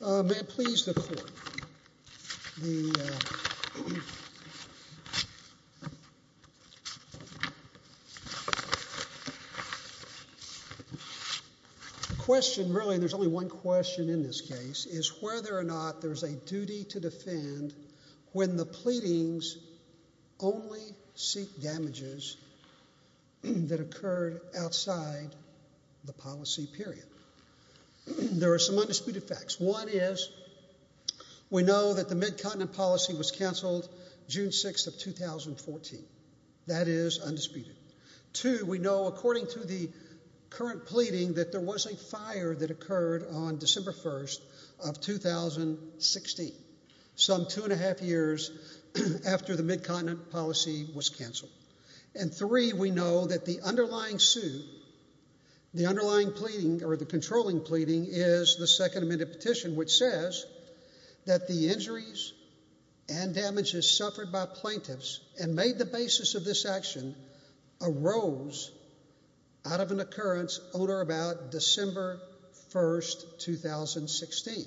May it please the court, the question really, there's only one question in this case, is whether or not there's a duty to defend when the pleadings only seek damages that occurred outside the policy period. There are some undisputed facts. One is we know that the Mid-Continent policy was cancelled June 6th of 2014. That is undisputed. Two, we know according to the current pleading that there was a fire that occurred on December 1st of 2016, some two and a half years after the Mid-Continent policy was cancelled. And three, we know that the underlying suit, the underlying pleading or the controlling pleading is the second amended petition which says that the injuries and damages suffered by plaintiffs and made the basis of this action arose out of an occurrence on or about December 1st, 2016.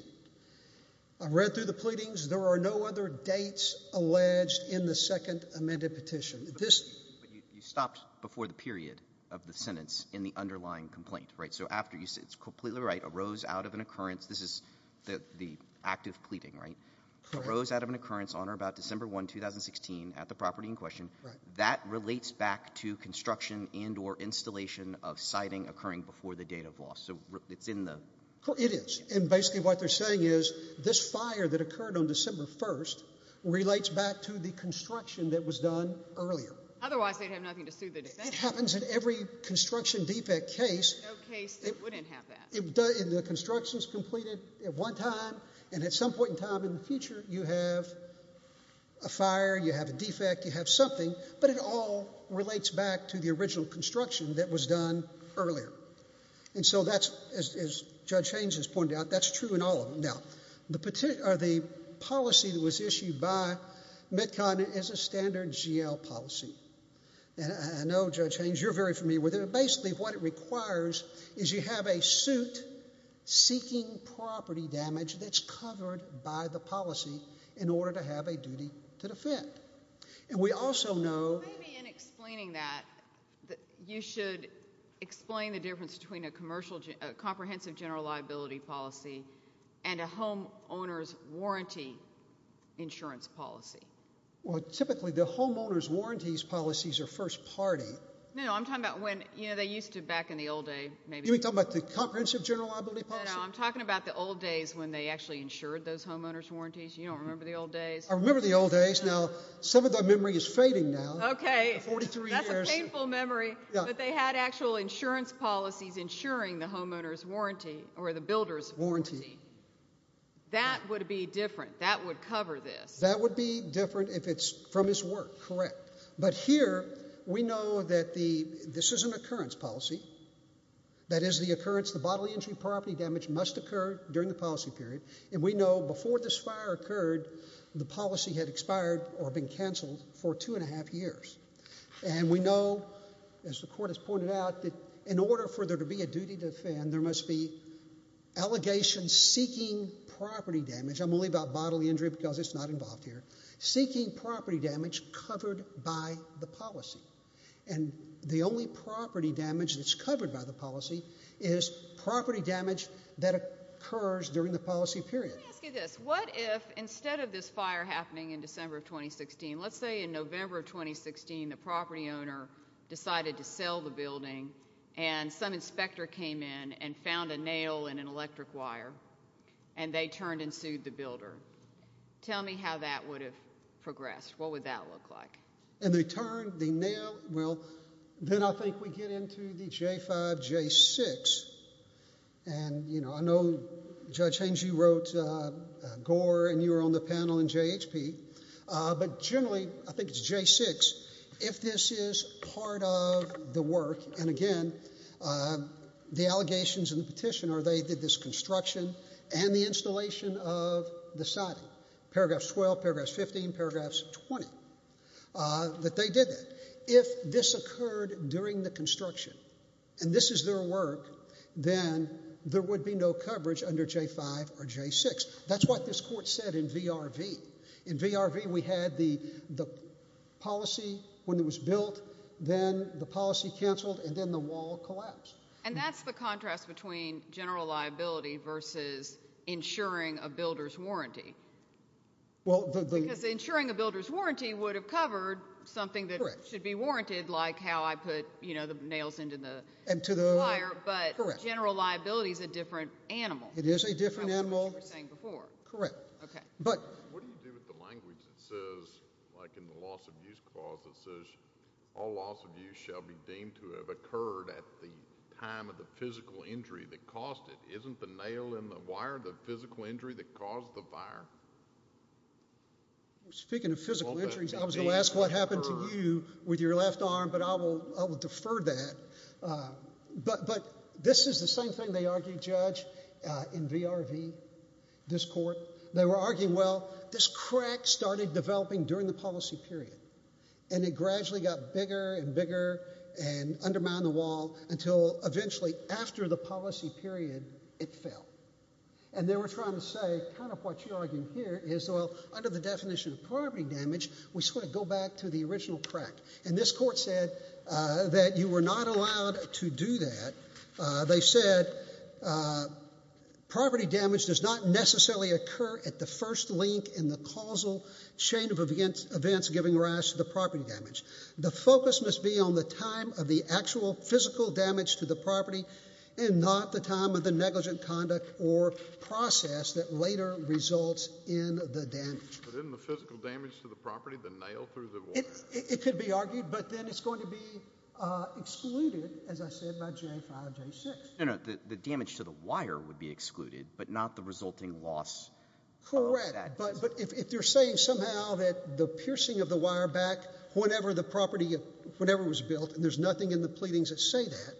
I've read through the pleadings. There are no other dates alleged in the second amended petition. But you stopped before the period of the sentence in the underlying complaint, right? So after you said it's completely right, arose out of an occurrence, this is the active pleading, right? Correct. Arose out of an occurrence on or about December 1st, 2016 at the property in question. Right. That relates back to construction and or installation of siding occurring before the date of loss. So it's in the… It is. And basically what they're saying is this fire that occurred on December 1st relates back to the construction that was done earlier. Otherwise they'd have nothing to sue the defendant. It happens in every construction defect case. No case that wouldn't have that. The construction's completed at one time and at some point in time in the future you have a fire, you have a defect, you have something, but it all relates back to the original construction that was done earlier. And so that's, as Judge Haynes has pointed out, that's true in all of them. Now, the policy that was issued by METCON is a standard GL policy. And I know, Judge Haynes, you're very familiar with it. Basically what it requires is you have a suit seeking property damage that's covered by the policy in order to have a duty to defend. And we also know… Maybe in explaining that you should explain the difference between a comprehensive general liability policy and a homeowner's warranty insurance policy. Well, typically the homeowner's warranties policies are first party. No, I'm talking about when, you know, they used to back in the old days maybe… You mean talking about the comprehensive general liability policy? No, no, I'm talking about the old days when they actually insured those homeowner's warranties. You don't remember the old days? I remember the old days. Now, some of that memory is fading now. Okay. Forty-three years. That's a painful memory. Yeah. But they had actual insurance policies insuring the homeowner's warranty or the builder's warranty. Warranty. That would be different. That would cover this. That would be different if it's from his work. Correct. But here we know that this is an occurrence policy. That is the occurrence, the bodily injury property damage must occur during the policy period. And we know before this fire occurred, the policy had expired or been canceled for two and a half years. And we know, as the court has pointed out, that in order for there to be a duty to defend, there must be allegations seeking property damage. I'm only about bodily injury because it's not involved here. Seeking property damage covered by the policy. And the only property damage that's covered by the policy is property damage that occurs during the policy period. Let me ask you this. What if instead of this fire happening in December of 2016, let's say in November of 2016 the property owner decided to sell the building and some inspector came in and found a nail in an electric wire and they turned and sued the builder. Tell me how that would have progressed. What would that look like? And they turned, they nailed. Well, then I think we get into the J5, J6. And, you know, I know, Judge Haynes, you wrote Gore and you were on the panel in JHP. But generally, I think it's J6. If this is part of the work, and again, the allegations in the petition are they did this construction and the installation of the siding. Paragraphs 12, paragraphs 15, paragraphs 20, that they did that. If this occurred during the construction and this is their work, then there would be no coverage under J5 or J6. That's what this court said in VRV. In VRV, we had the policy when it was built, then the policy canceled, and then the wall collapsed. And that's the contrast between general liability versus insuring a builder's warranty. Because insuring a builder's warranty would have covered something that should be warranted, like how I put, you know, the nails into the wire. But general liability is a different animal. It is a different animal. From what you were saying before. Correct. What do you do with the language that says, like in the loss of use clause that says, all loss of use shall be deemed to have occurred at the time of the physical injury that caused it? Isn't the nail in the wire the physical injury that caused the fire? Speaking of physical injuries, I was going to ask what happened to you with your left arm, but I will defer that. But this is the same thing they argued, Judge, in VRV, this court. They were arguing, well, this crack started developing during the policy period. And it gradually got bigger and bigger and undermined the wall until eventually, after the policy period, it fell. And they were trying to say, kind of what you're arguing here is, well, under the definition of property damage, we sort of go back to the original crack. And this court said that you were not allowed to do that. They said property damage does not necessarily occur at the first link in the causal chain of events giving rise to the property damage. The focus must be on the time of the actual physical damage to the property and not the time of the negligent conduct or process that later results in the damage. But isn't the physical damage to the property the nail through the wire? It could be argued, but then it's going to be excluded, as I said, by J5, J6. No, no, the damage to the wire would be excluded, but not the resulting loss. Correct. But if they're saying somehow that the piercing of the wire back whenever the property, whenever it was built, and there's nothing in the pleadings that say that,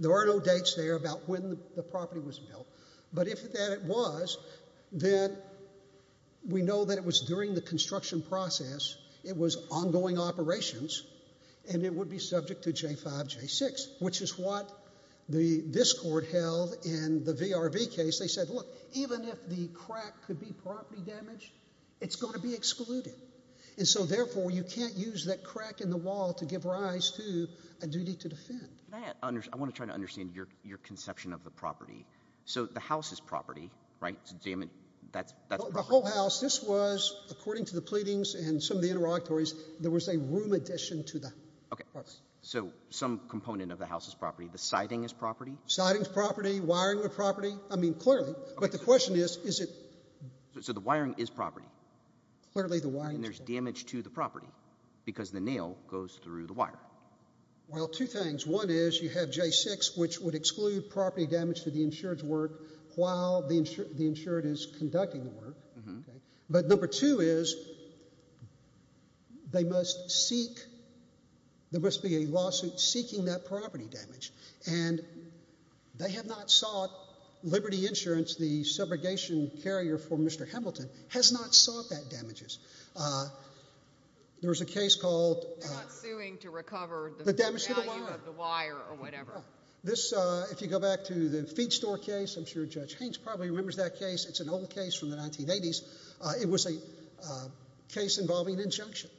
there are no dates there about when the property was built. But if that was, then we know that it was during the construction process, it was ongoing operations, and it would be subject to J5, J6, which is what this court held in the VRV case. They said, look, even if the crack could be property damage, it's going to be excluded. And so, therefore, you can't use that crack in the wall to give rise to a duty to defend. I want to try to understand your conception of the property. So the house is property, right? The whole house, this was, according to the pleadings and some of the interrogatories, there was a room addition to the property. So some component of the house is property. The siding is property? Siding is property. Wiring is property. I mean, clearly. But the question is, is it? So the wiring is property. Clearly the wiring is property. And there's damage to the property because the nail goes through the wire. Well, two things. One is you have J6, which would exclude property damage to the insured's work while the insured is conducting the work. But number two is they must seek, there must be a lawsuit seeking that property damage. And they have not sought Liberty Insurance, the subrogation carrier for Mr. Hamilton, has not sought that damages. There was a case called the damage to the wire. If you go back to the feed store case, I'm sure Judge Haines probably remembers that case. It's an old case from the 1980s. It was a case involving injunction.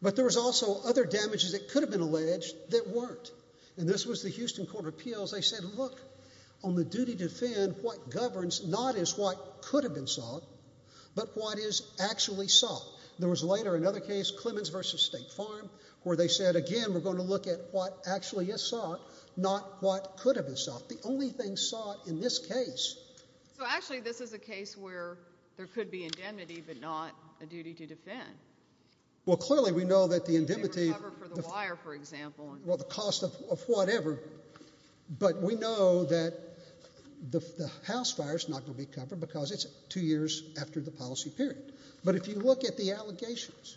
But there was also other damages that could have been alleged that weren't. And this was the Houston Court of Appeals. They said, look, on the duty to defend, what governs not is what could have been sought, but what is actually sought. There was later another case, Clemens v. State Farm, where they said, again, we're going to look at what actually is sought, not what could have been sought. The only thing sought in this case. So, actually, this is a case where there could be indemnity but not a duty to defend. Well, clearly we know that the indemnity. For the wire, for example. Well, the cost of whatever. But we know that the house fire is not going to be covered because it's two years after the policy period. But if you look at the allegations,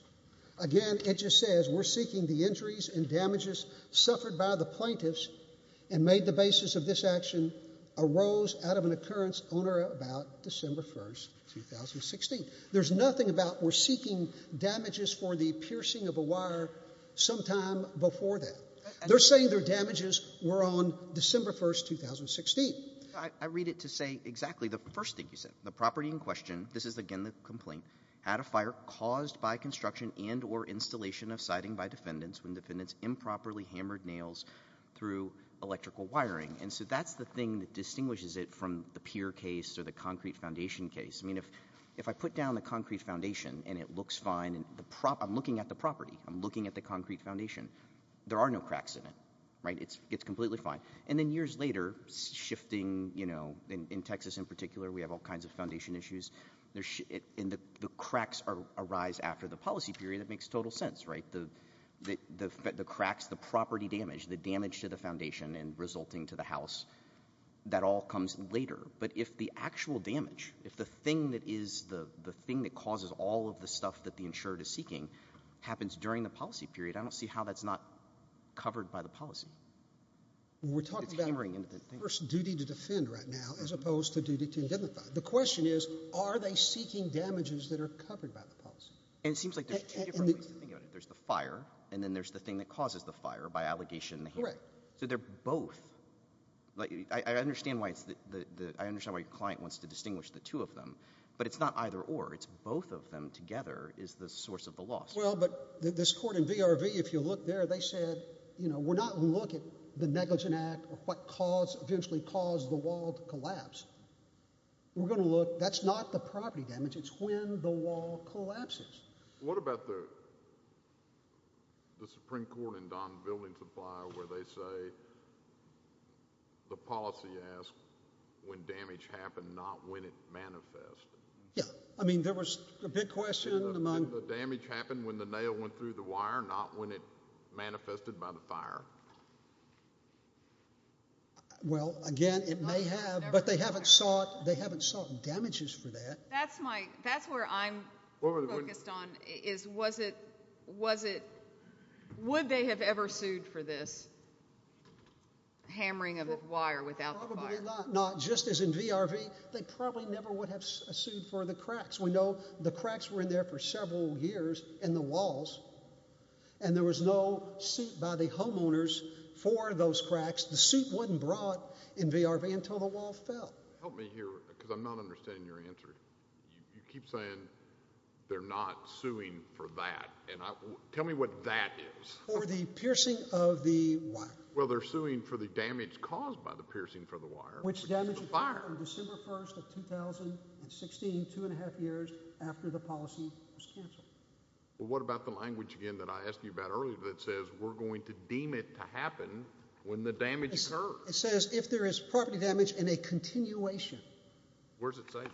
again, it just says we're seeking the injuries and damages suffered by the plaintiffs and made the basis of this action arose out of an occurrence on or about December 1, 2016. There's nothing about we're seeking damages for the piercing of a wire sometime before that. They're saying their damages were on December 1, 2016. I read it to say exactly the first thing you said. The property in question, this is, again, the complaint, had a fire caused by construction and or installation of siding by defendants when defendants improperly hammered nails through electrical wiring. And so that's the thing that distinguishes it from the Peer case or the Concrete Foundation case. I mean, if I put down the Concrete Foundation and it looks fine, I'm looking at the property. I'm looking at the Concrete Foundation. There are no cracks in it, right? It's completely fine. And then years later, shifting, you know, in Texas in particular, we have all kinds of foundation issues. And the cracks arise after the policy period. It makes total sense, right? The cracks, the property damage, the damage to the foundation and resulting to the house, that all comes later. But if the actual damage, if the thing that is the thing that causes all of the stuff that the insured is seeking happens during the policy period, I don't see how that's not covered by the policy. We're talking about first duty to defend right now as opposed to duty to indemnify. The question is, are they seeking damages that are covered by the policy? And it seems like there's two different ways to think about it. There's the fire, and then there's the thing that causes the fire by allegation and the hammer. Correct. So they're both. I understand why your client wants to distinguish the two of them. But it's not either or. It's both of them together is the source of the loss. Well, but this court in VRV, if you look there, they said, you know, we're not going to look at the negligent act or what eventually caused the wall to collapse. We're going to look, that's not the property damage. It's when the wall collapses. What about the Supreme Court in Don Building Supply where they say the policy asks when damage happened, not when it manifests? Yeah. I mean, there was a big question among. Did the damage happen when the nail went through the wire, not when it manifested by the fire? Well, again, it may have, but they haven't sought damages for that. That's my, that's where I'm focused on, is was it, was it, would they have ever sued for this hammering of the wire without the fire? Probably not, not just as in VRV. They probably never would have sued for the cracks. We know the cracks were in there for several years in the walls, and there was no suit by the homeowners for those cracks. The suit wasn't brought in VRV until the wall fell. Help me here, because I'm not understanding your answer. You keep saying they're not suing for that, and I, tell me what that is. For the piercing of the wire. Well, they're suing for the damage caused by the piercing for the wire. Which damage occurred on December 1st of 2016, two and a half years after the policy was canceled. Well, what about the language again that I asked you about earlier that says we're going to deem it to happen when the damage occurs? It says if there is property damage and a continuation. Where does it say that?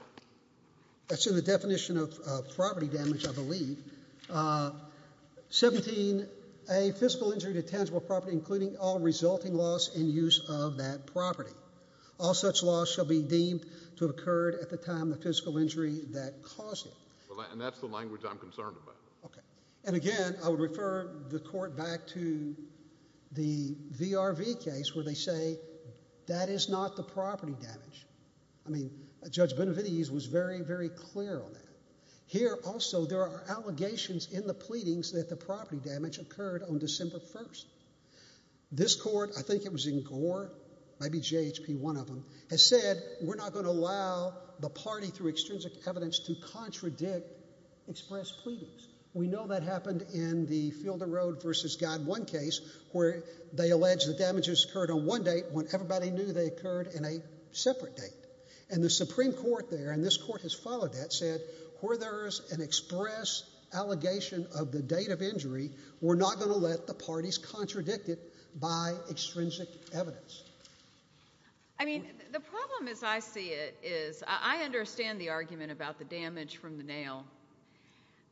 That's in the definition of property damage, I believe. 17, a physical injury to tangible property including all resulting loss in use of that property. All such loss shall be deemed to have occurred at the time the physical injury that caused it. And that's the language I'm concerned about. Okay. And again, I would refer the court back to the VRV case where they say that is not the property damage. I mean, Judge Benavides was very, very clear on that. Here also there are allegations in the pleadings that the property damage occurred on December 1st. This court, I think it was in Gore, maybe JHP, one of them, has said we're not going to allow the party through extrinsic evidence to contradict express pleadings. We know that happened in the Fielder Road v. Guide 1 case where they allege the damages occurred on one date when everybody knew they occurred in a separate date. And the Supreme Court there, and this court has followed that, said where there is an express allegation of the date of injury, we're not going to let the parties contradict it by extrinsic evidence. I mean, the problem as I see it is I understand the argument about the damage from the nail,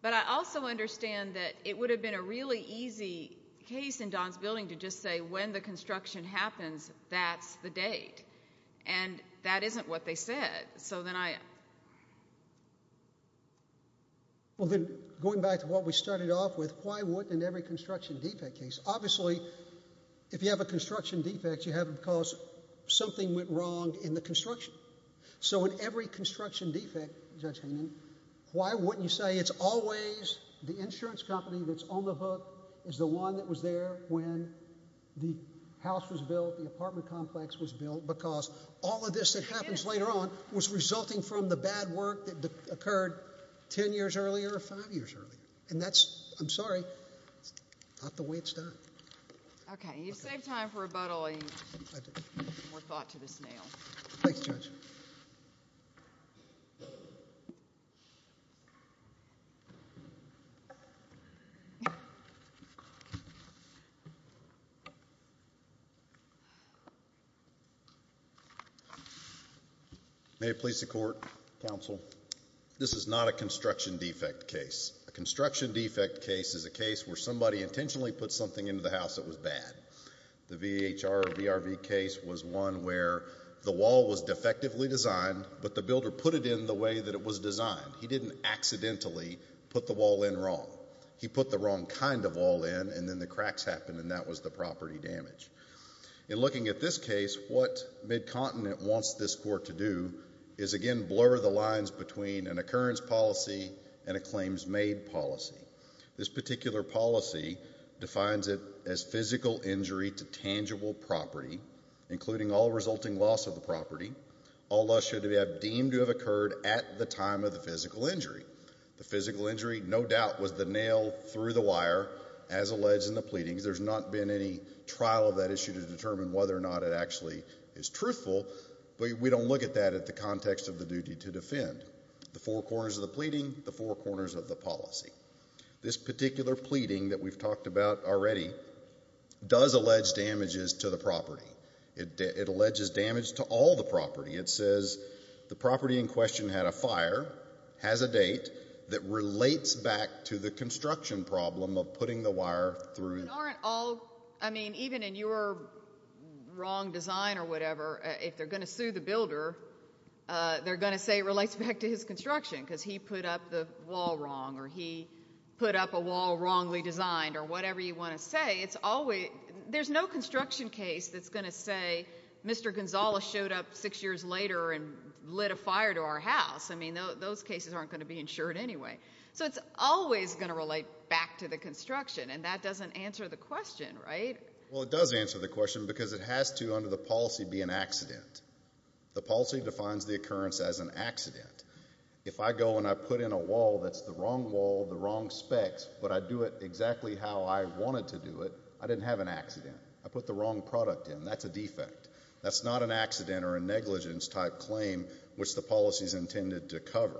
but I also understand that it would have been a really easy case in Don's building to just say when the construction happens, that's the date. And that isn't what they said. So then I — Well, then going back to what we started off with, why wouldn't in every construction defect case? Obviously, if you have a construction defect, you have it because something went wrong in the construction. So in every construction defect, Judge Hayman, why wouldn't you say it's always the insurance company that's on the hook, is the one that was there when the house was built, the apartment complex was built, because all of this that happens later on was resulting from the bad work that occurred ten years earlier or five years earlier. And that's — I'm sorry. It's not the way it's done. Okay. You've saved time for rebuttal. I do. More thought to this nail. Thanks, Judge. May it please the Court, Counsel, this is not a construction defect case. A construction defect case is a case where somebody intentionally put something into the house that was bad. The VHR or VRV case was one where the wall was defectively designed, but the builder put it in the way that it was designed. He didn't accidentally put the wall in wrong. He put the wrong kind of wall in, and then the cracks happened, and that was the property damage. In looking at this case, what MidContinent wants this Court to do is, again, blur the lines between an occurrence policy and a claims-made policy. This particular policy defines it as physical injury to tangible property, including all resulting loss of the property. All loss should have been deemed to have occurred at the time of the physical injury. The physical injury, no doubt, was the nail through the wire, as alleged in the pleadings. There's not been any trial of that issue to determine whether or not it actually is truthful, but we don't look at that at the context of the duty to defend. The four corners of the pleading, the four corners of the policy. This particular pleading that we've talked about already does allege damages to the property. It alleges damage to all the property. It says the property in question had a fire, has a date, that relates back to the construction problem of putting the wire through. Even in your wrong design or whatever, if they're going to sue the builder, they're going to say it relates back to his construction because he put up the wall wrong or he put up a wall wrongly designed or whatever you want to say. There's no construction case that's going to say Mr. Gonzales showed up six years later and lit a fire to our house. I mean, those cases aren't going to be insured anyway. So it's always going to relate back to the construction, and that doesn't answer the question, right? Well, it does answer the question because it has to, under the policy, be an accident. The policy defines the occurrence as an accident. If I go and I put in a wall that's the wrong wall, the wrong specs, but I do it exactly how I wanted to do it, I didn't have an accident. I put the wrong product in. That's a defect. That's not an accident or a negligence type claim, which the policy is intended to cover.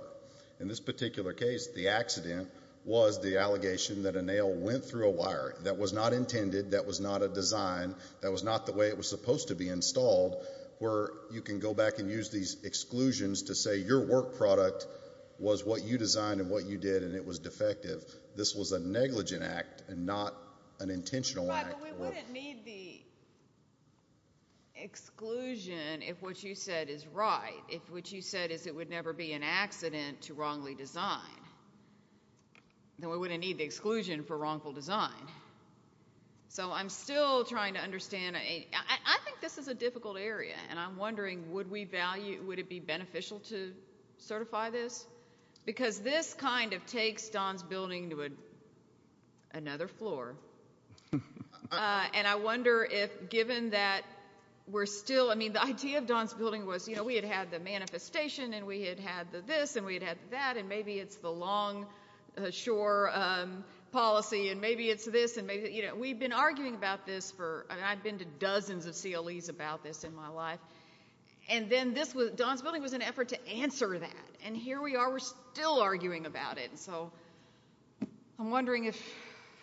In this particular case, the accident was the allegation that a nail went through a wire. That was not intended. That was not a design. That was not the way it was supposed to be installed, where you can go back and use these exclusions to say your work product was what you designed and what you did, and it was defective. This was a negligent act and not an intentional one. Well, we wouldn't need the exclusion if what you said is right, if what you said is it would never be an accident to wrongly design. Then we wouldn't need the exclusion for wrongful design. So I'm still trying to understand. I think this is a difficult area, and I'm wondering would it be beneficial to certify this? Because this kind of takes Don's Building to another floor, and I wonder if given that we're still ‑‑ I mean, the idea of Don's Building was, you know, we had had the manifestation and we had had the this and we had had the that, and maybe it's the longshore policy and maybe it's this and maybe ‑‑ you know, we've been arguing about this for ‑‑ I mean, I've been to dozens of CLEs about this in my life, and then Don's Building was an effort to answer that, and here we are, we're still arguing about it. So I'm wondering if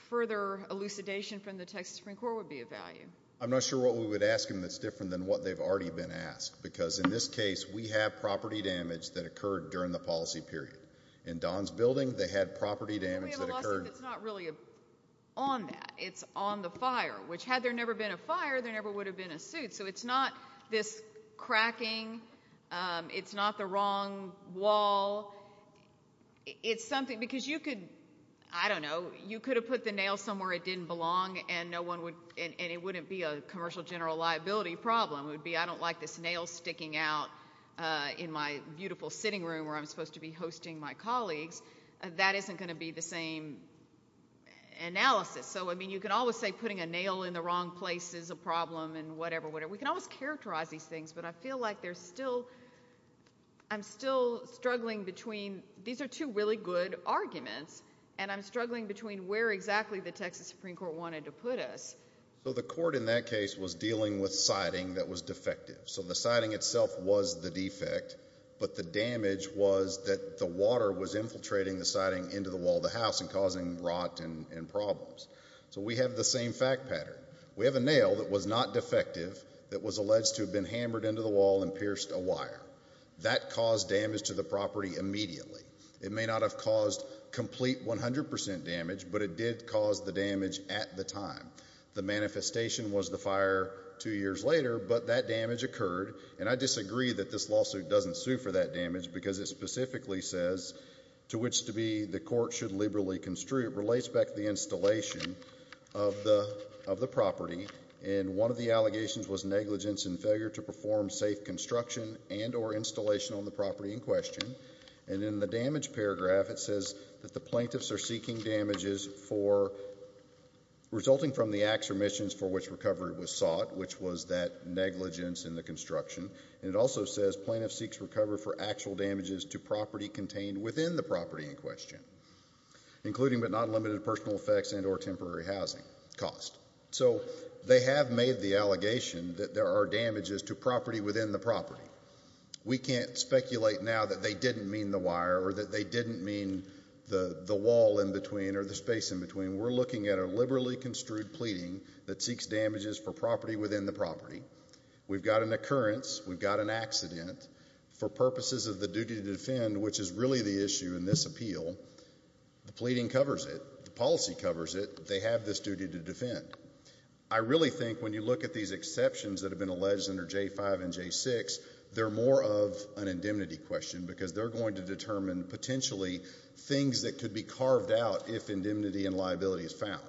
further elucidation from the Texas Supreme Court would be of value. I'm not sure what we would ask them that's different than what they've already been asked, because in this case we have property damage that occurred during the policy period. In Don's Building, they had property damage that occurred. We have a lawsuit that's not really on that. It's on the fire, which had there never been a fire, there never would have been a suit. So it's not this cracking, it's not the wrong wall, it's something ‑‑ because you could, I don't know, you could have put the nail somewhere it didn't belong and no one would ‑‑ and it wouldn't be a commercial general liability problem. It would be, I don't like this nail sticking out in my beautiful sitting room where I'm supposed to be hosting my colleagues. That isn't going to be the same analysis. So, I mean, you could always say putting a nail in the wrong place is a problem and whatever, whatever, we can always characterize these things, but I feel like there's still, I'm still struggling between, these are two really good arguments, and I'm struggling between where exactly the Texas Supreme Court wanted to put us. So the court in that case was dealing with siding that was defective. So the siding itself was the defect, but the damage was that the water was infiltrating the siding into the wall of the house and causing rot and problems. So we have the same fact pattern. We have a nail that was not defective that was alleged to have been hammered into the wall and pierced a wire. That caused damage to the property immediately. It may not have caused complete 100% damage, but it did cause the damage at the time. The manifestation was the fire two years later, but that damage occurred, and I disagree that this lawsuit doesn't sue for that damage because it specifically says to which to be the court should liberally construe. It relates back to the installation of the property, and one of the allegations was negligence and failure to perform safe construction and or installation on the property in question. And in the damage paragraph it says that the plaintiffs are seeking damages for resulting from the acts or missions for which recovery was sought, which was that negligence in the construction. And it also says plaintiffs seeks recovery for actual damages to property contained within the property in question, including but not limited to personal effects and or temporary housing cost. So they have made the allegation that there are damages to property within the property. We can't speculate now that they didn't mean the wire or that they didn't mean the wall in between or the space in between. We're looking at a liberally construed pleading that seeks damages for property within the property. We've got an occurrence. We've got an accident for purposes of the duty to defend, which is really the issue in this appeal. The pleading covers it. The policy covers it. They have this duty to defend. I really think when you look at these exceptions that have been alleged under J-5 and J-6, they're more of an indemnity question because they're going to determine potentially things that could be carved out if indemnity and liability is found.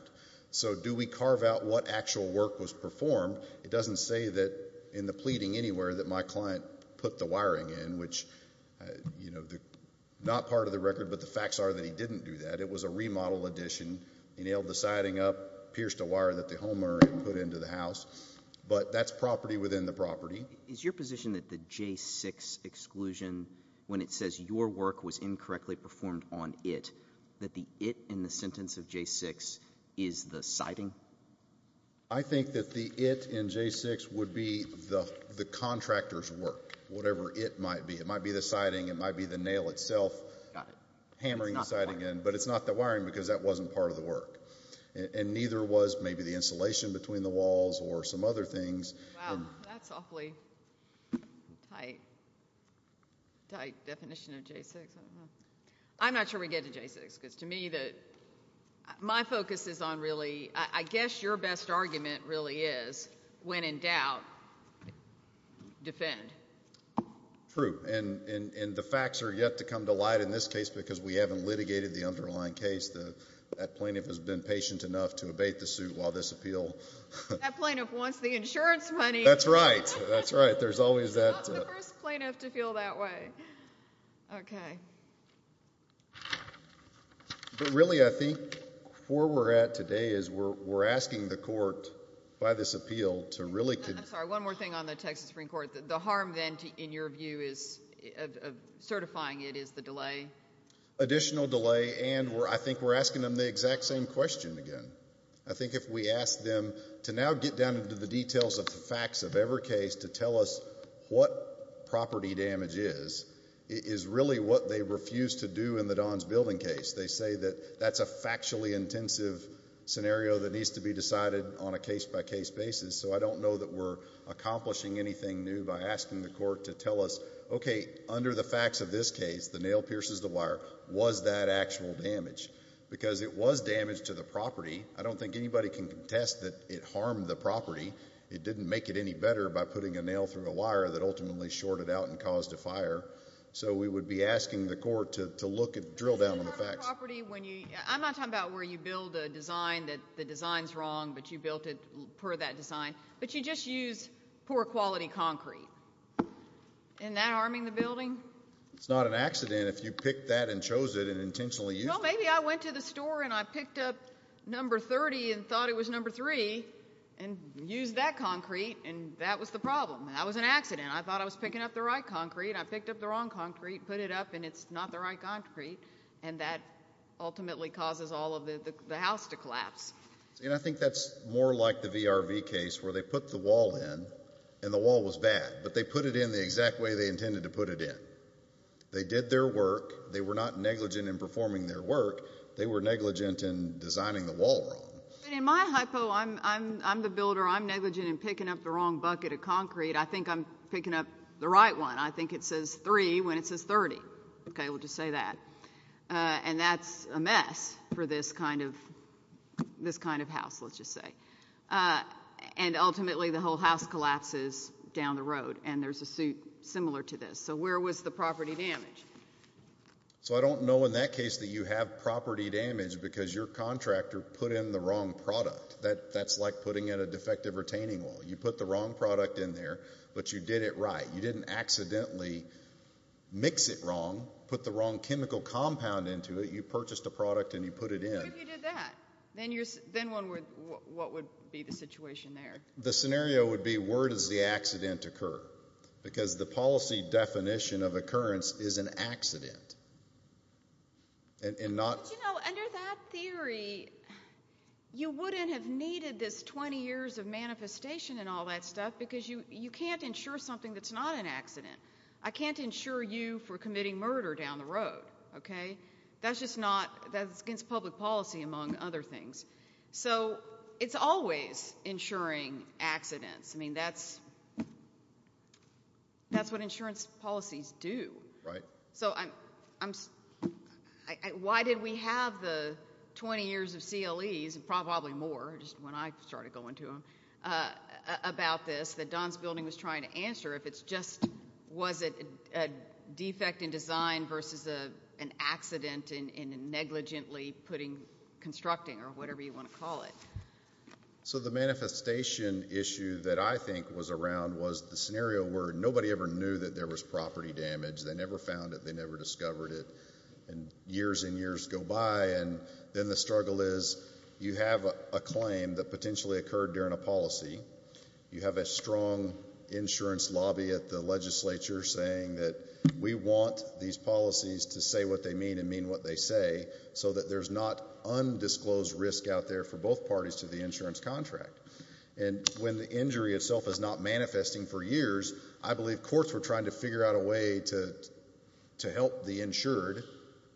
So do we carve out what actual work was performed? It doesn't say that in the pleading anywhere that my client put the wiring in, which not part of the record, but the facts are that he didn't do that. It was a remodel addition. He nailed the siding up, pierced a wire that the homeowner had put into the house. But that's property within the property. Is your position that the J-6 exclusion, when it says your work was incorrectly performed on it, that the it in the sentence of J-6 is the siding? I think that the it in J-6 would be the contractor's work, whatever it might be. It might be the siding. It might be the nail itself hammering the siding in. But it's not the wiring because that wasn't part of the work. And neither was maybe the insulation between the walls or some other things. Wow, that's awfully tight, tight definition of J-6. I'm not sure we get to J-6 because to me my focus is on really, I guess your best argument really is when in doubt, defend. True, and the facts are yet to come to light in this case because we haven't litigated the underlying case. That plaintiff has been patient enough to abate the suit while this appeal. That plaintiff wants the insurance money. That's right. That's right. There's always that. I'm not the first plaintiff to feel that way. Okay. But really I think where we're at today is we're asking the court by this appeal to really... I'm sorry, one more thing on the Texas Supreme Court. The harm then in your view of certifying it is the delay. Additional delay, and I think we're asking them the exact same question again. I think if we ask them to now get down into the details of the facts of every case to tell us what property damage is, is really what they refuse to do in the Dons Building case. They say that that's a factually intensive scenario that needs to be decided on a case-by-case basis. So I don't know that we're accomplishing anything new by asking the court to tell us, okay, under the facts of this case, the nail pierces the wire, was that actual damage? Because it was damage to the property. I don't think anybody can contest that it harmed the property. It didn't make it any better by putting a nail through a wire that ultimately shorted out and caused a fire. So we would be asking the court to drill down on the facts. I'm not talking about where you build a design, that the design's wrong, but you built it per that design. But you just used poor quality concrete. Isn't that harming the building? It's not an accident if you picked that and chose it and intentionally used it. Well, maybe I went to the store and I picked up number 30 and thought it was number 3 and used that concrete, and that was the problem. That was an accident. I thought I was picking up the right concrete. I picked up the wrong concrete, put it up, and it's not the right concrete, and that ultimately causes all of the house to collapse. And I think that's more like the VRV case where they put the wall in, and the wall was bad, but they put it in the exact way they intended to put it in. They did their work. They were not negligent in performing their work. They were negligent in designing the wall wrong. In my hypo, I'm the builder. I'm negligent in picking up the wrong bucket of concrete. I think I'm picking up the right one. I think it says 3 when it says 30. Okay, we'll just say that. And that's a mess for this kind of house, let's just say. And ultimately the whole house collapses down the road, and there's a suit similar to this. So where was the property damage? So I don't know in that case that you have property damage because your contractor put in the wrong product. That's like putting in a defective retaining wall. You put the wrong product in there, but you did it right. You didn't accidentally mix it wrong, put the wrong chemical compound into it. You purchased a product and you put it in. But you did that. Then what would be the situation there? The scenario would be where does the accident occur? Because the policy definition of occurrence is an accident. But, you know, under that theory, you wouldn't have needed this 20 years of manifestation and all that stuff because you can't insure something that's not an accident. I can't insure you for committing murder down the road. That's against public policy, among other things. So it's always insuring accidents. I mean, that's what insurance policies do. Right. So why did we have the 20 years of CLEs, and probably more just when I started going to them, about this that Don's building was trying to answer if it's just was it a defect in design versus an accident in negligently putting constructing or whatever you want to call it? So the manifestation issue that I think was around was the scenario where nobody ever knew that there was property damage. They never found it. They never discovered it. And years and years go by. And then the struggle is you have a claim that potentially occurred during a policy. You have a strong insurance lobby at the legislature saying that we want these policies to say what they mean and mean what they say so that there's not undisclosed risk out there for both parties to the insurance contract. And when the injury itself is not manifesting for years, I believe courts were trying to figure out a way to help the insured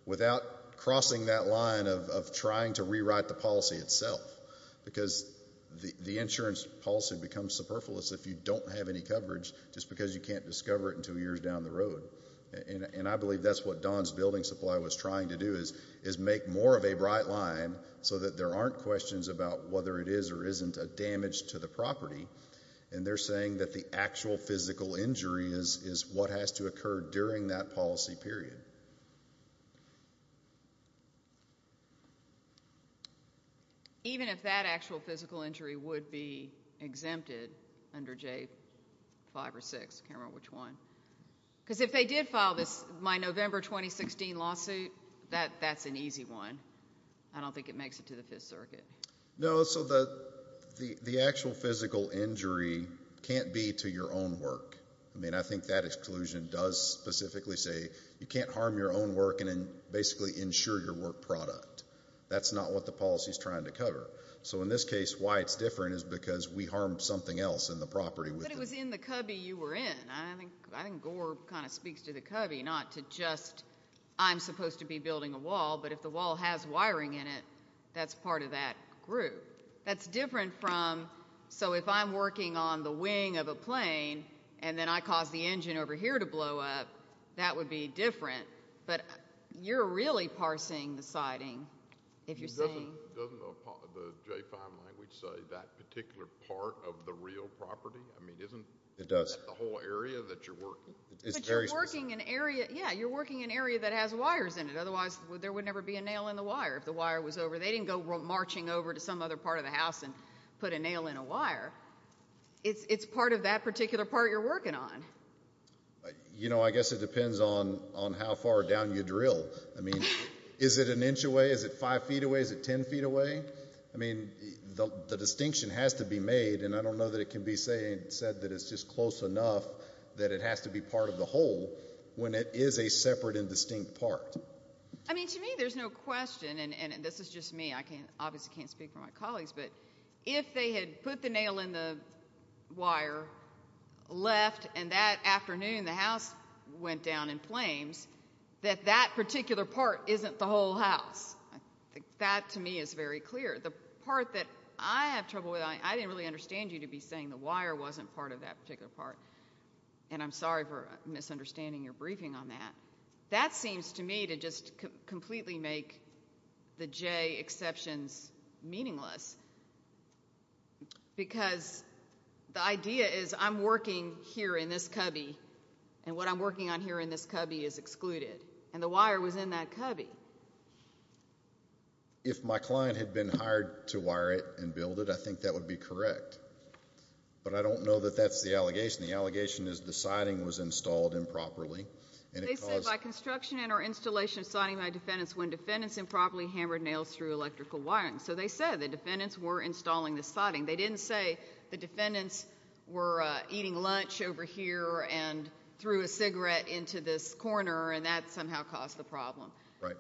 without crossing that line of trying to rewrite the policy itself because the insurance policy becomes superfluous if you don't have any coverage just because you can't discover it until years down the road. And I believe that's what Don's building supply was trying to do is make more of a bright line so that there aren't questions about whether it is or isn't a damage to the property. And they're saying that the actual physical injury is what has to occur during that policy period. Even if that actual physical injury would be exempted under J5 or 6? I can't remember which one. Because if they did file my November 2016 lawsuit, that's an easy one. I don't think it makes it to the Fifth Circuit. No, so the actual physical injury can't be to your own work. I mean, I think that exclusion does specifically say you can't harm your own work and basically insure your work product. That's not what the policy is trying to cover. So in this case, why it's different is because we harmed something else in the property. But it was in the cubby you were in. I think Gore kind of speaks to the cubby, not to just I'm supposed to be building a wall. But if the wall has wiring in it, that's part of that group. That's different from so if I'm working on the wing of a plane and then I cause the engine over here to blow up, that would be different. But you're really parsing the siding if you're saying. Doesn't the J5 language say that particular part of the real property? I mean, isn't that the whole area that you're working? But you're working an area that has wires in it. Otherwise, there would never be a nail in the wire if the wire was over. They didn't go marching over to some other part of the house and put a nail in a wire. It's part of that particular part you're working on. You know, I guess it depends on how far down you drill. I mean, is it an inch away? Is it 5 feet away? Is it 10 feet away? I mean, the distinction has to be made, and I don't know that it can be said that it's just close enough that it has to be part of the whole when it is a separate and distinct part. I mean, to me there's no question, and this is just me. I obviously can't speak for my colleagues, but if they had put the nail in the wire, left, and that afternoon the house went down in flames, that that particular part isn't the whole house. That, to me, is very clear. The part that I have trouble with, I didn't really understand you to be saying the wire wasn't part of that particular part, and I'm sorry for misunderstanding your briefing on that. That seems to me to just completely make the J exceptions meaningless because the idea is I'm working here in this cubby, and what I'm working on here in this cubby is excluded, and the wire was in that cubby. If my client had been hired to wire it and build it, I think that would be correct, but I don't know that that's the allegation. The allegation is the siding was installed improperly. They said, By construction and or installation of siding by defendants when defendants improperly hammered nails through electrical wiring. So they said the defendants were installing the siding. They didn't say the defendants were eating lunch over here and threw a cigarette into this corner, and that somehow caused the problem. Right.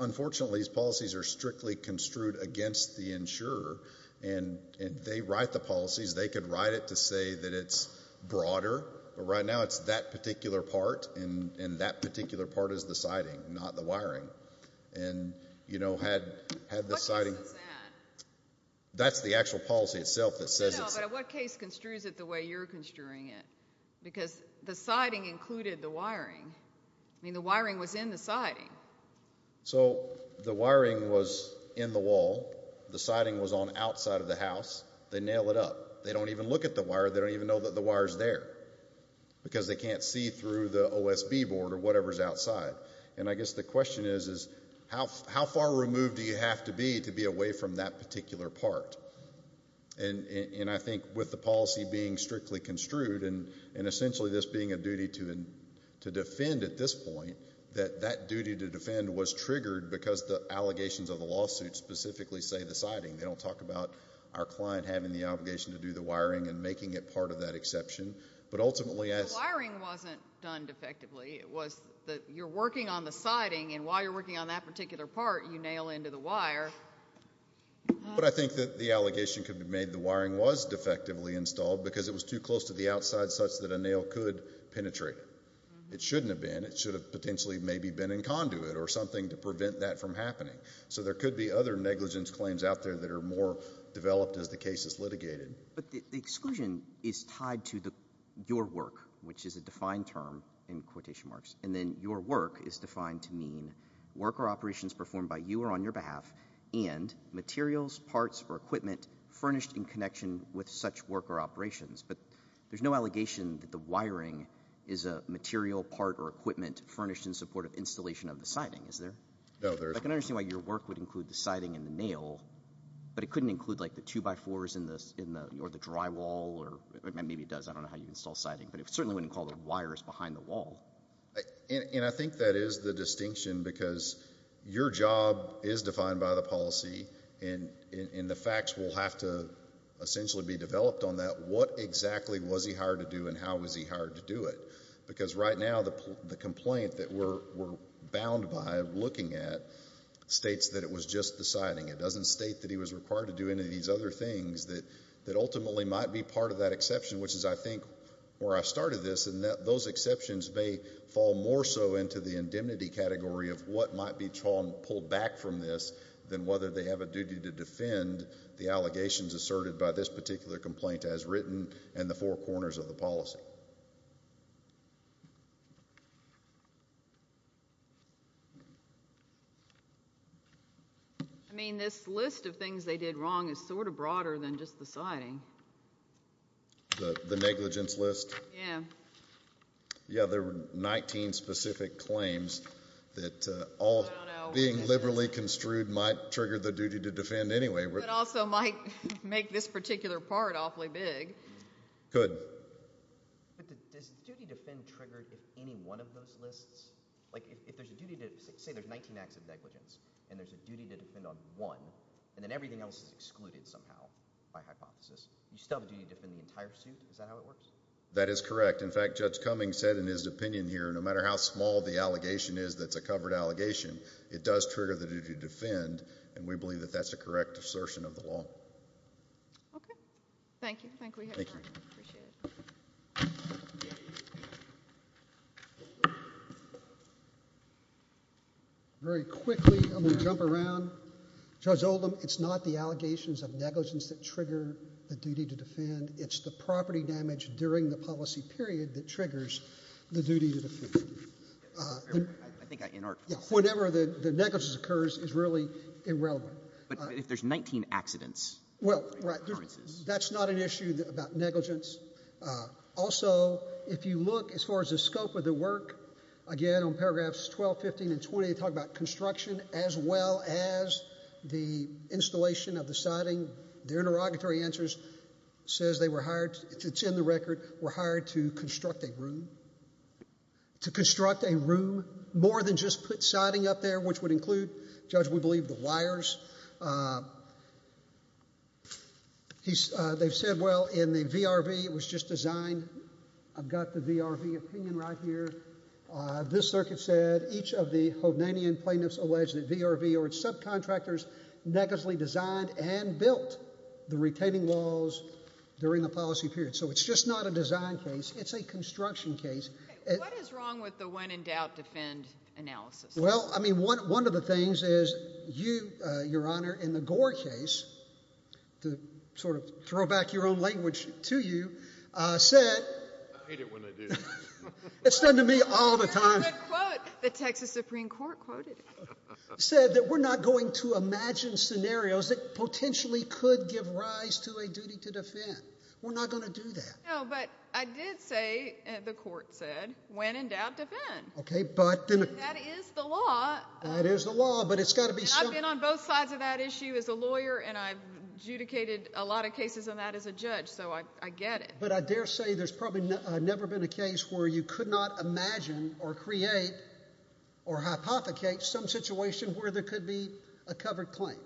Unfortunately, these policies are strictly construed against the insurer, and they write the policies. They could write it to say that it's broader, but right now it's that particular part, and that particular part is the siding, not the wiring. What case is that? That's the actual policy itself that says it's No, but in what case construes it the way you're construing it? Because the siding included the wiring. I mean, the wiring was in the siding. So the wiring was in the wall. The siding was on outside of the house. They nail it up. They don't even look at the wire. They don't even know that the wire is there because they can't see through the OSB board or whatever is outside. And I guess the question is, how far removed do you have to be to be away from that particular part? And I think with the policy being strictly construed and essentially this being a duty to defend at this point, that that duty to defend was triggered because the allegations of the lawsuit specifically say the siding. They don't talk about our client having the obligation to do the wiring and making it part of that exception. The wiring wasn't done defectively. You're working on the siding, and while you're working on that particular part, you nail into the wire. But I think that the allegation could be made the wiring was defectively installed because it was too close to the outside such that a nail could penetrate it. It shouldn't have been. It should have potentially maybe been in conduit or something to prevent that from happening. So there could be other negligence claims out there that are more developed as the case is litigated. But the exclusion is tied to your work, which is a defined term in quotation marks, and then your work is defined to mean work or operations performed by you or on your behalf and materials, parts, or equipment furnished in connection with such work or operations. But there's no allegation that the wiring is a material, part, or equipment furnished in support of installation of the siding, is there? No, there isn't. I can understand why your work would include the siding and the nail, but it couldn't include the two-by-fours or the drywall. Maybe it does. I don't know how you install siding. But it certainly wouldn't call the wires behind the wall. And I think that is the distinction because your job is defined by the policy, and the facts will have to essentially be developed on that. What exactly was he hired to do and how was he hired to do it? Because right now the complaint that we're bound by looking at states that it was just the siding. It doesn't state that he was required to do any of these other things that ultimately might be part of that exception, which is, I think, where I started this, and those exceptions may fall more so into the indemnity category of what might be pulled back from this than whether they have a duty to defend the allegations asserted by this particular complaint as written in the four corners of the policy. I mean, this list of things they did wrong is sort of broader than just the siding. The negligence list? Yeah. Yeah, there were 19 specific claims that all being liberally construed might trigger the duty to defend anyway. But also might make this particular part awfully big. Could. But does duty to defend trigger any one of those lists? Like, if there's a duty to say there's 19 acts of negligence and there's a duty to defend on one and then everything else is excluded somehow by hypothesis, you still have a duty to defend the entire suit? Is that how it works? That is correct. In fact, Judge Cummings said in his opinion here no matter how small the allegation is that's a covered allegation, it does trigger the duty to defend, and we believe that that's a correct assertion of the law. Okay. Thank you. Thank you. Appreciate it. Very quickly, I'm going to jump around. Judge Oldham, it's not the allegations of negligence that trigger the duty to defend. It's the property damage during the policy period that triggers the duty to defend. I think I inarticulate. Whenever the negligence occurs is really irrelevant. But if there's 19 accidents. Well, right. That's not an issue about negligence. Also, if you look as far as the scope of the work, again, on paragraphs 12, 15, and 20, they talk about construction as well as the installation of the siding. The interrogatory answers says they were hired, it's in the record, were hired to construct a room, to construct a room, more than just put siding up there, which would include, Judge, we believe, the wires. They've said, well, in the VRV, it was just designed. I've got the VRV opinion right here. This circuit said each of the Hoganian plaintiffs alleged that VRV or its subcontractors negligently designed and built the retaining walls during the policy period. So it's just not a design case. It's a construction case. What is wrong with the when in doubt defend analysis? Well, I mean, one of the things is you, Your Honor, in the Gore case, to sort of throw back your own language to you, said... I hate it when they do that. It's done to me all the time. The Texas Supreme Court quoted it. ...said that we're not going to imagine scenarios that potentially could give rise to a duty to defend. We're not going to do that. No, but I did say, the court said, when in doubt defend. Okay, but... That is the law. That is the law, but it's got to be... And I've been on both sides of that issue as a lawyer, and I've adjudicated a lot of cases on that as a judge, so I get it. But I dare say there's probably never been a case where you could not imagine or create or hypothecate some situation where there could be a covered claim.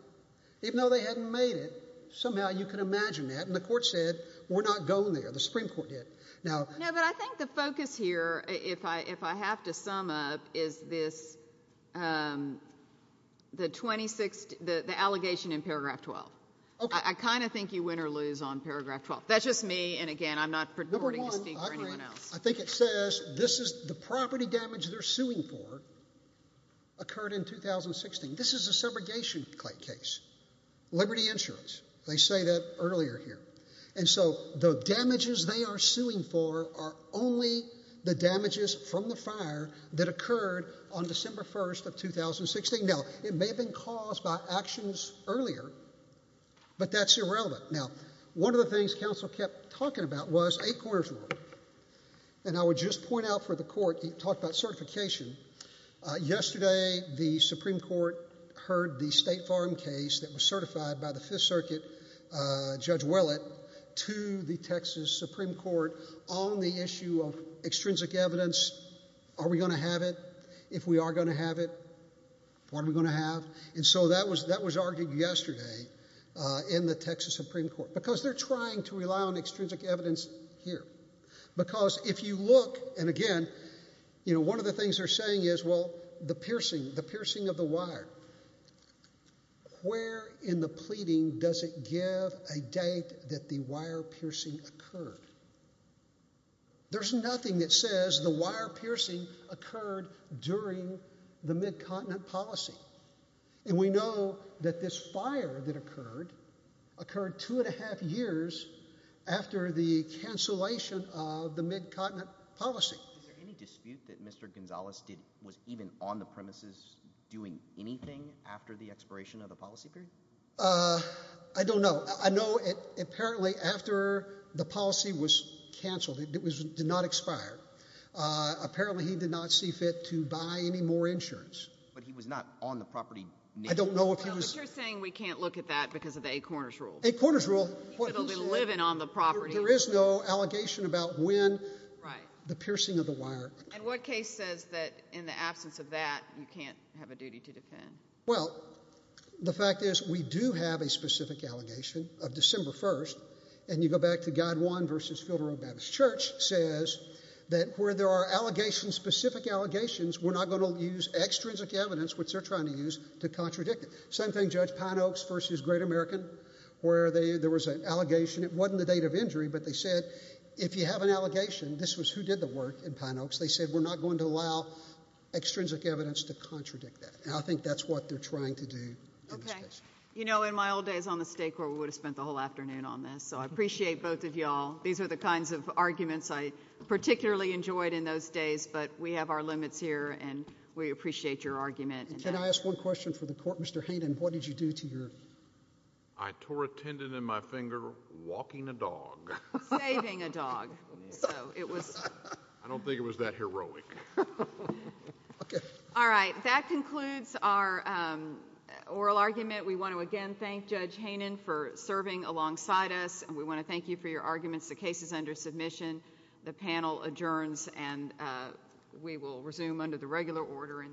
Even though they hadn't made it, somehow you could imagine that, and the court said, we're not going there. The Supreme Court did. Now... No, but I think the focus here, if I have to sum up, is this, um, the 26th... the allegation in paragraph 12. Okay. I kind of think you win or lose on paragraph 12. That's just me, and again, I'm not... Number one, I think it says, this is the property damage they're suing for occurred in 2016. This is a segregation case. Liberty Insurance. They say that earlier here. And so the damages they are suing for are only the damages from the fire that occurred on December 1st of 2016. Now, it may have been caused by actions earlier, but that's irrelevant. Now, one of the things counsel kept talking about was eight-quarters rule. And I would just point out for the court... He talked about certification. Yesterday, the Supreme Court heard the State Farm case that was certified by the Fifth Circuit Judge Willett to the Texas Supreme Court on the issue of extrinsic evidence. Are we going to have it? If we are going to have it, what are we going to have? And so that was argued yesterday in the Texas Supreme Court. Because they're trying to rely on extrinsic evidence here. Because if you look... And again, you know, one of the things they're saying is, well, the piercing, the piercing of the wire. Where in the pleading does it give a date that the wire piercing occurred? There's nothing that says the wire piercing occurred during the Mid-Continent Policy. And we know that this fire that occurred occurred two-and-a-half years after the cancellation of the Mid-Continent Policy. Is there any dispute that Mr Gonzales did... anything after the expiration of the policy period? Uh, I don't know. I know, apparently, after the policy was canceled, it did not expire, apparently he did not see fit to buy any more insurance. But he was not on the property... I don't know if he was... But you're saying we can't look at that because of the Eight Corners Rule. Eight Corners Rule... It'll be living on the property. There is no allegation about when the piercing of the wire... Well, the fact is, we do have a specific allegation of December 1st, and you go back to Guide 1 v. Fielder O'Bannon's church, says that where there are allegations, specific allegations, we're not going to use extrinsic evidence, which they're trying to use, to contradict it. Same thing, Judge Pineoaks v. Great American, where there was an allegation. It wasn't the date of injury, but they said, if you have an allegation... This was who did the work in Pineoaks. They said, we're not going to allow extrinsic evidence to contradict that. And I think that's what they're trying to do. Okay. You know, in my old days on the State Court, we would have spent the whole afternoon on this, so I appreciate both of y'all. These are the kinds of arguments I particularly enjoyed in those days, but we have our limits here, and we appreciate your argument. Can I ask one question for the Court? Mr. Hayden, what did you do to your... I tore a tendon in my finger walking a dog. Saving a dog. So it was... I don't think it was that heroic. Okay. All right. That concludes our oral argument. We want to again thank Judge Hayden for serving alongside us, and we want to thank you for your arguments. The case is under submission. The panel adjourns, and we will resume under the regular order in the future.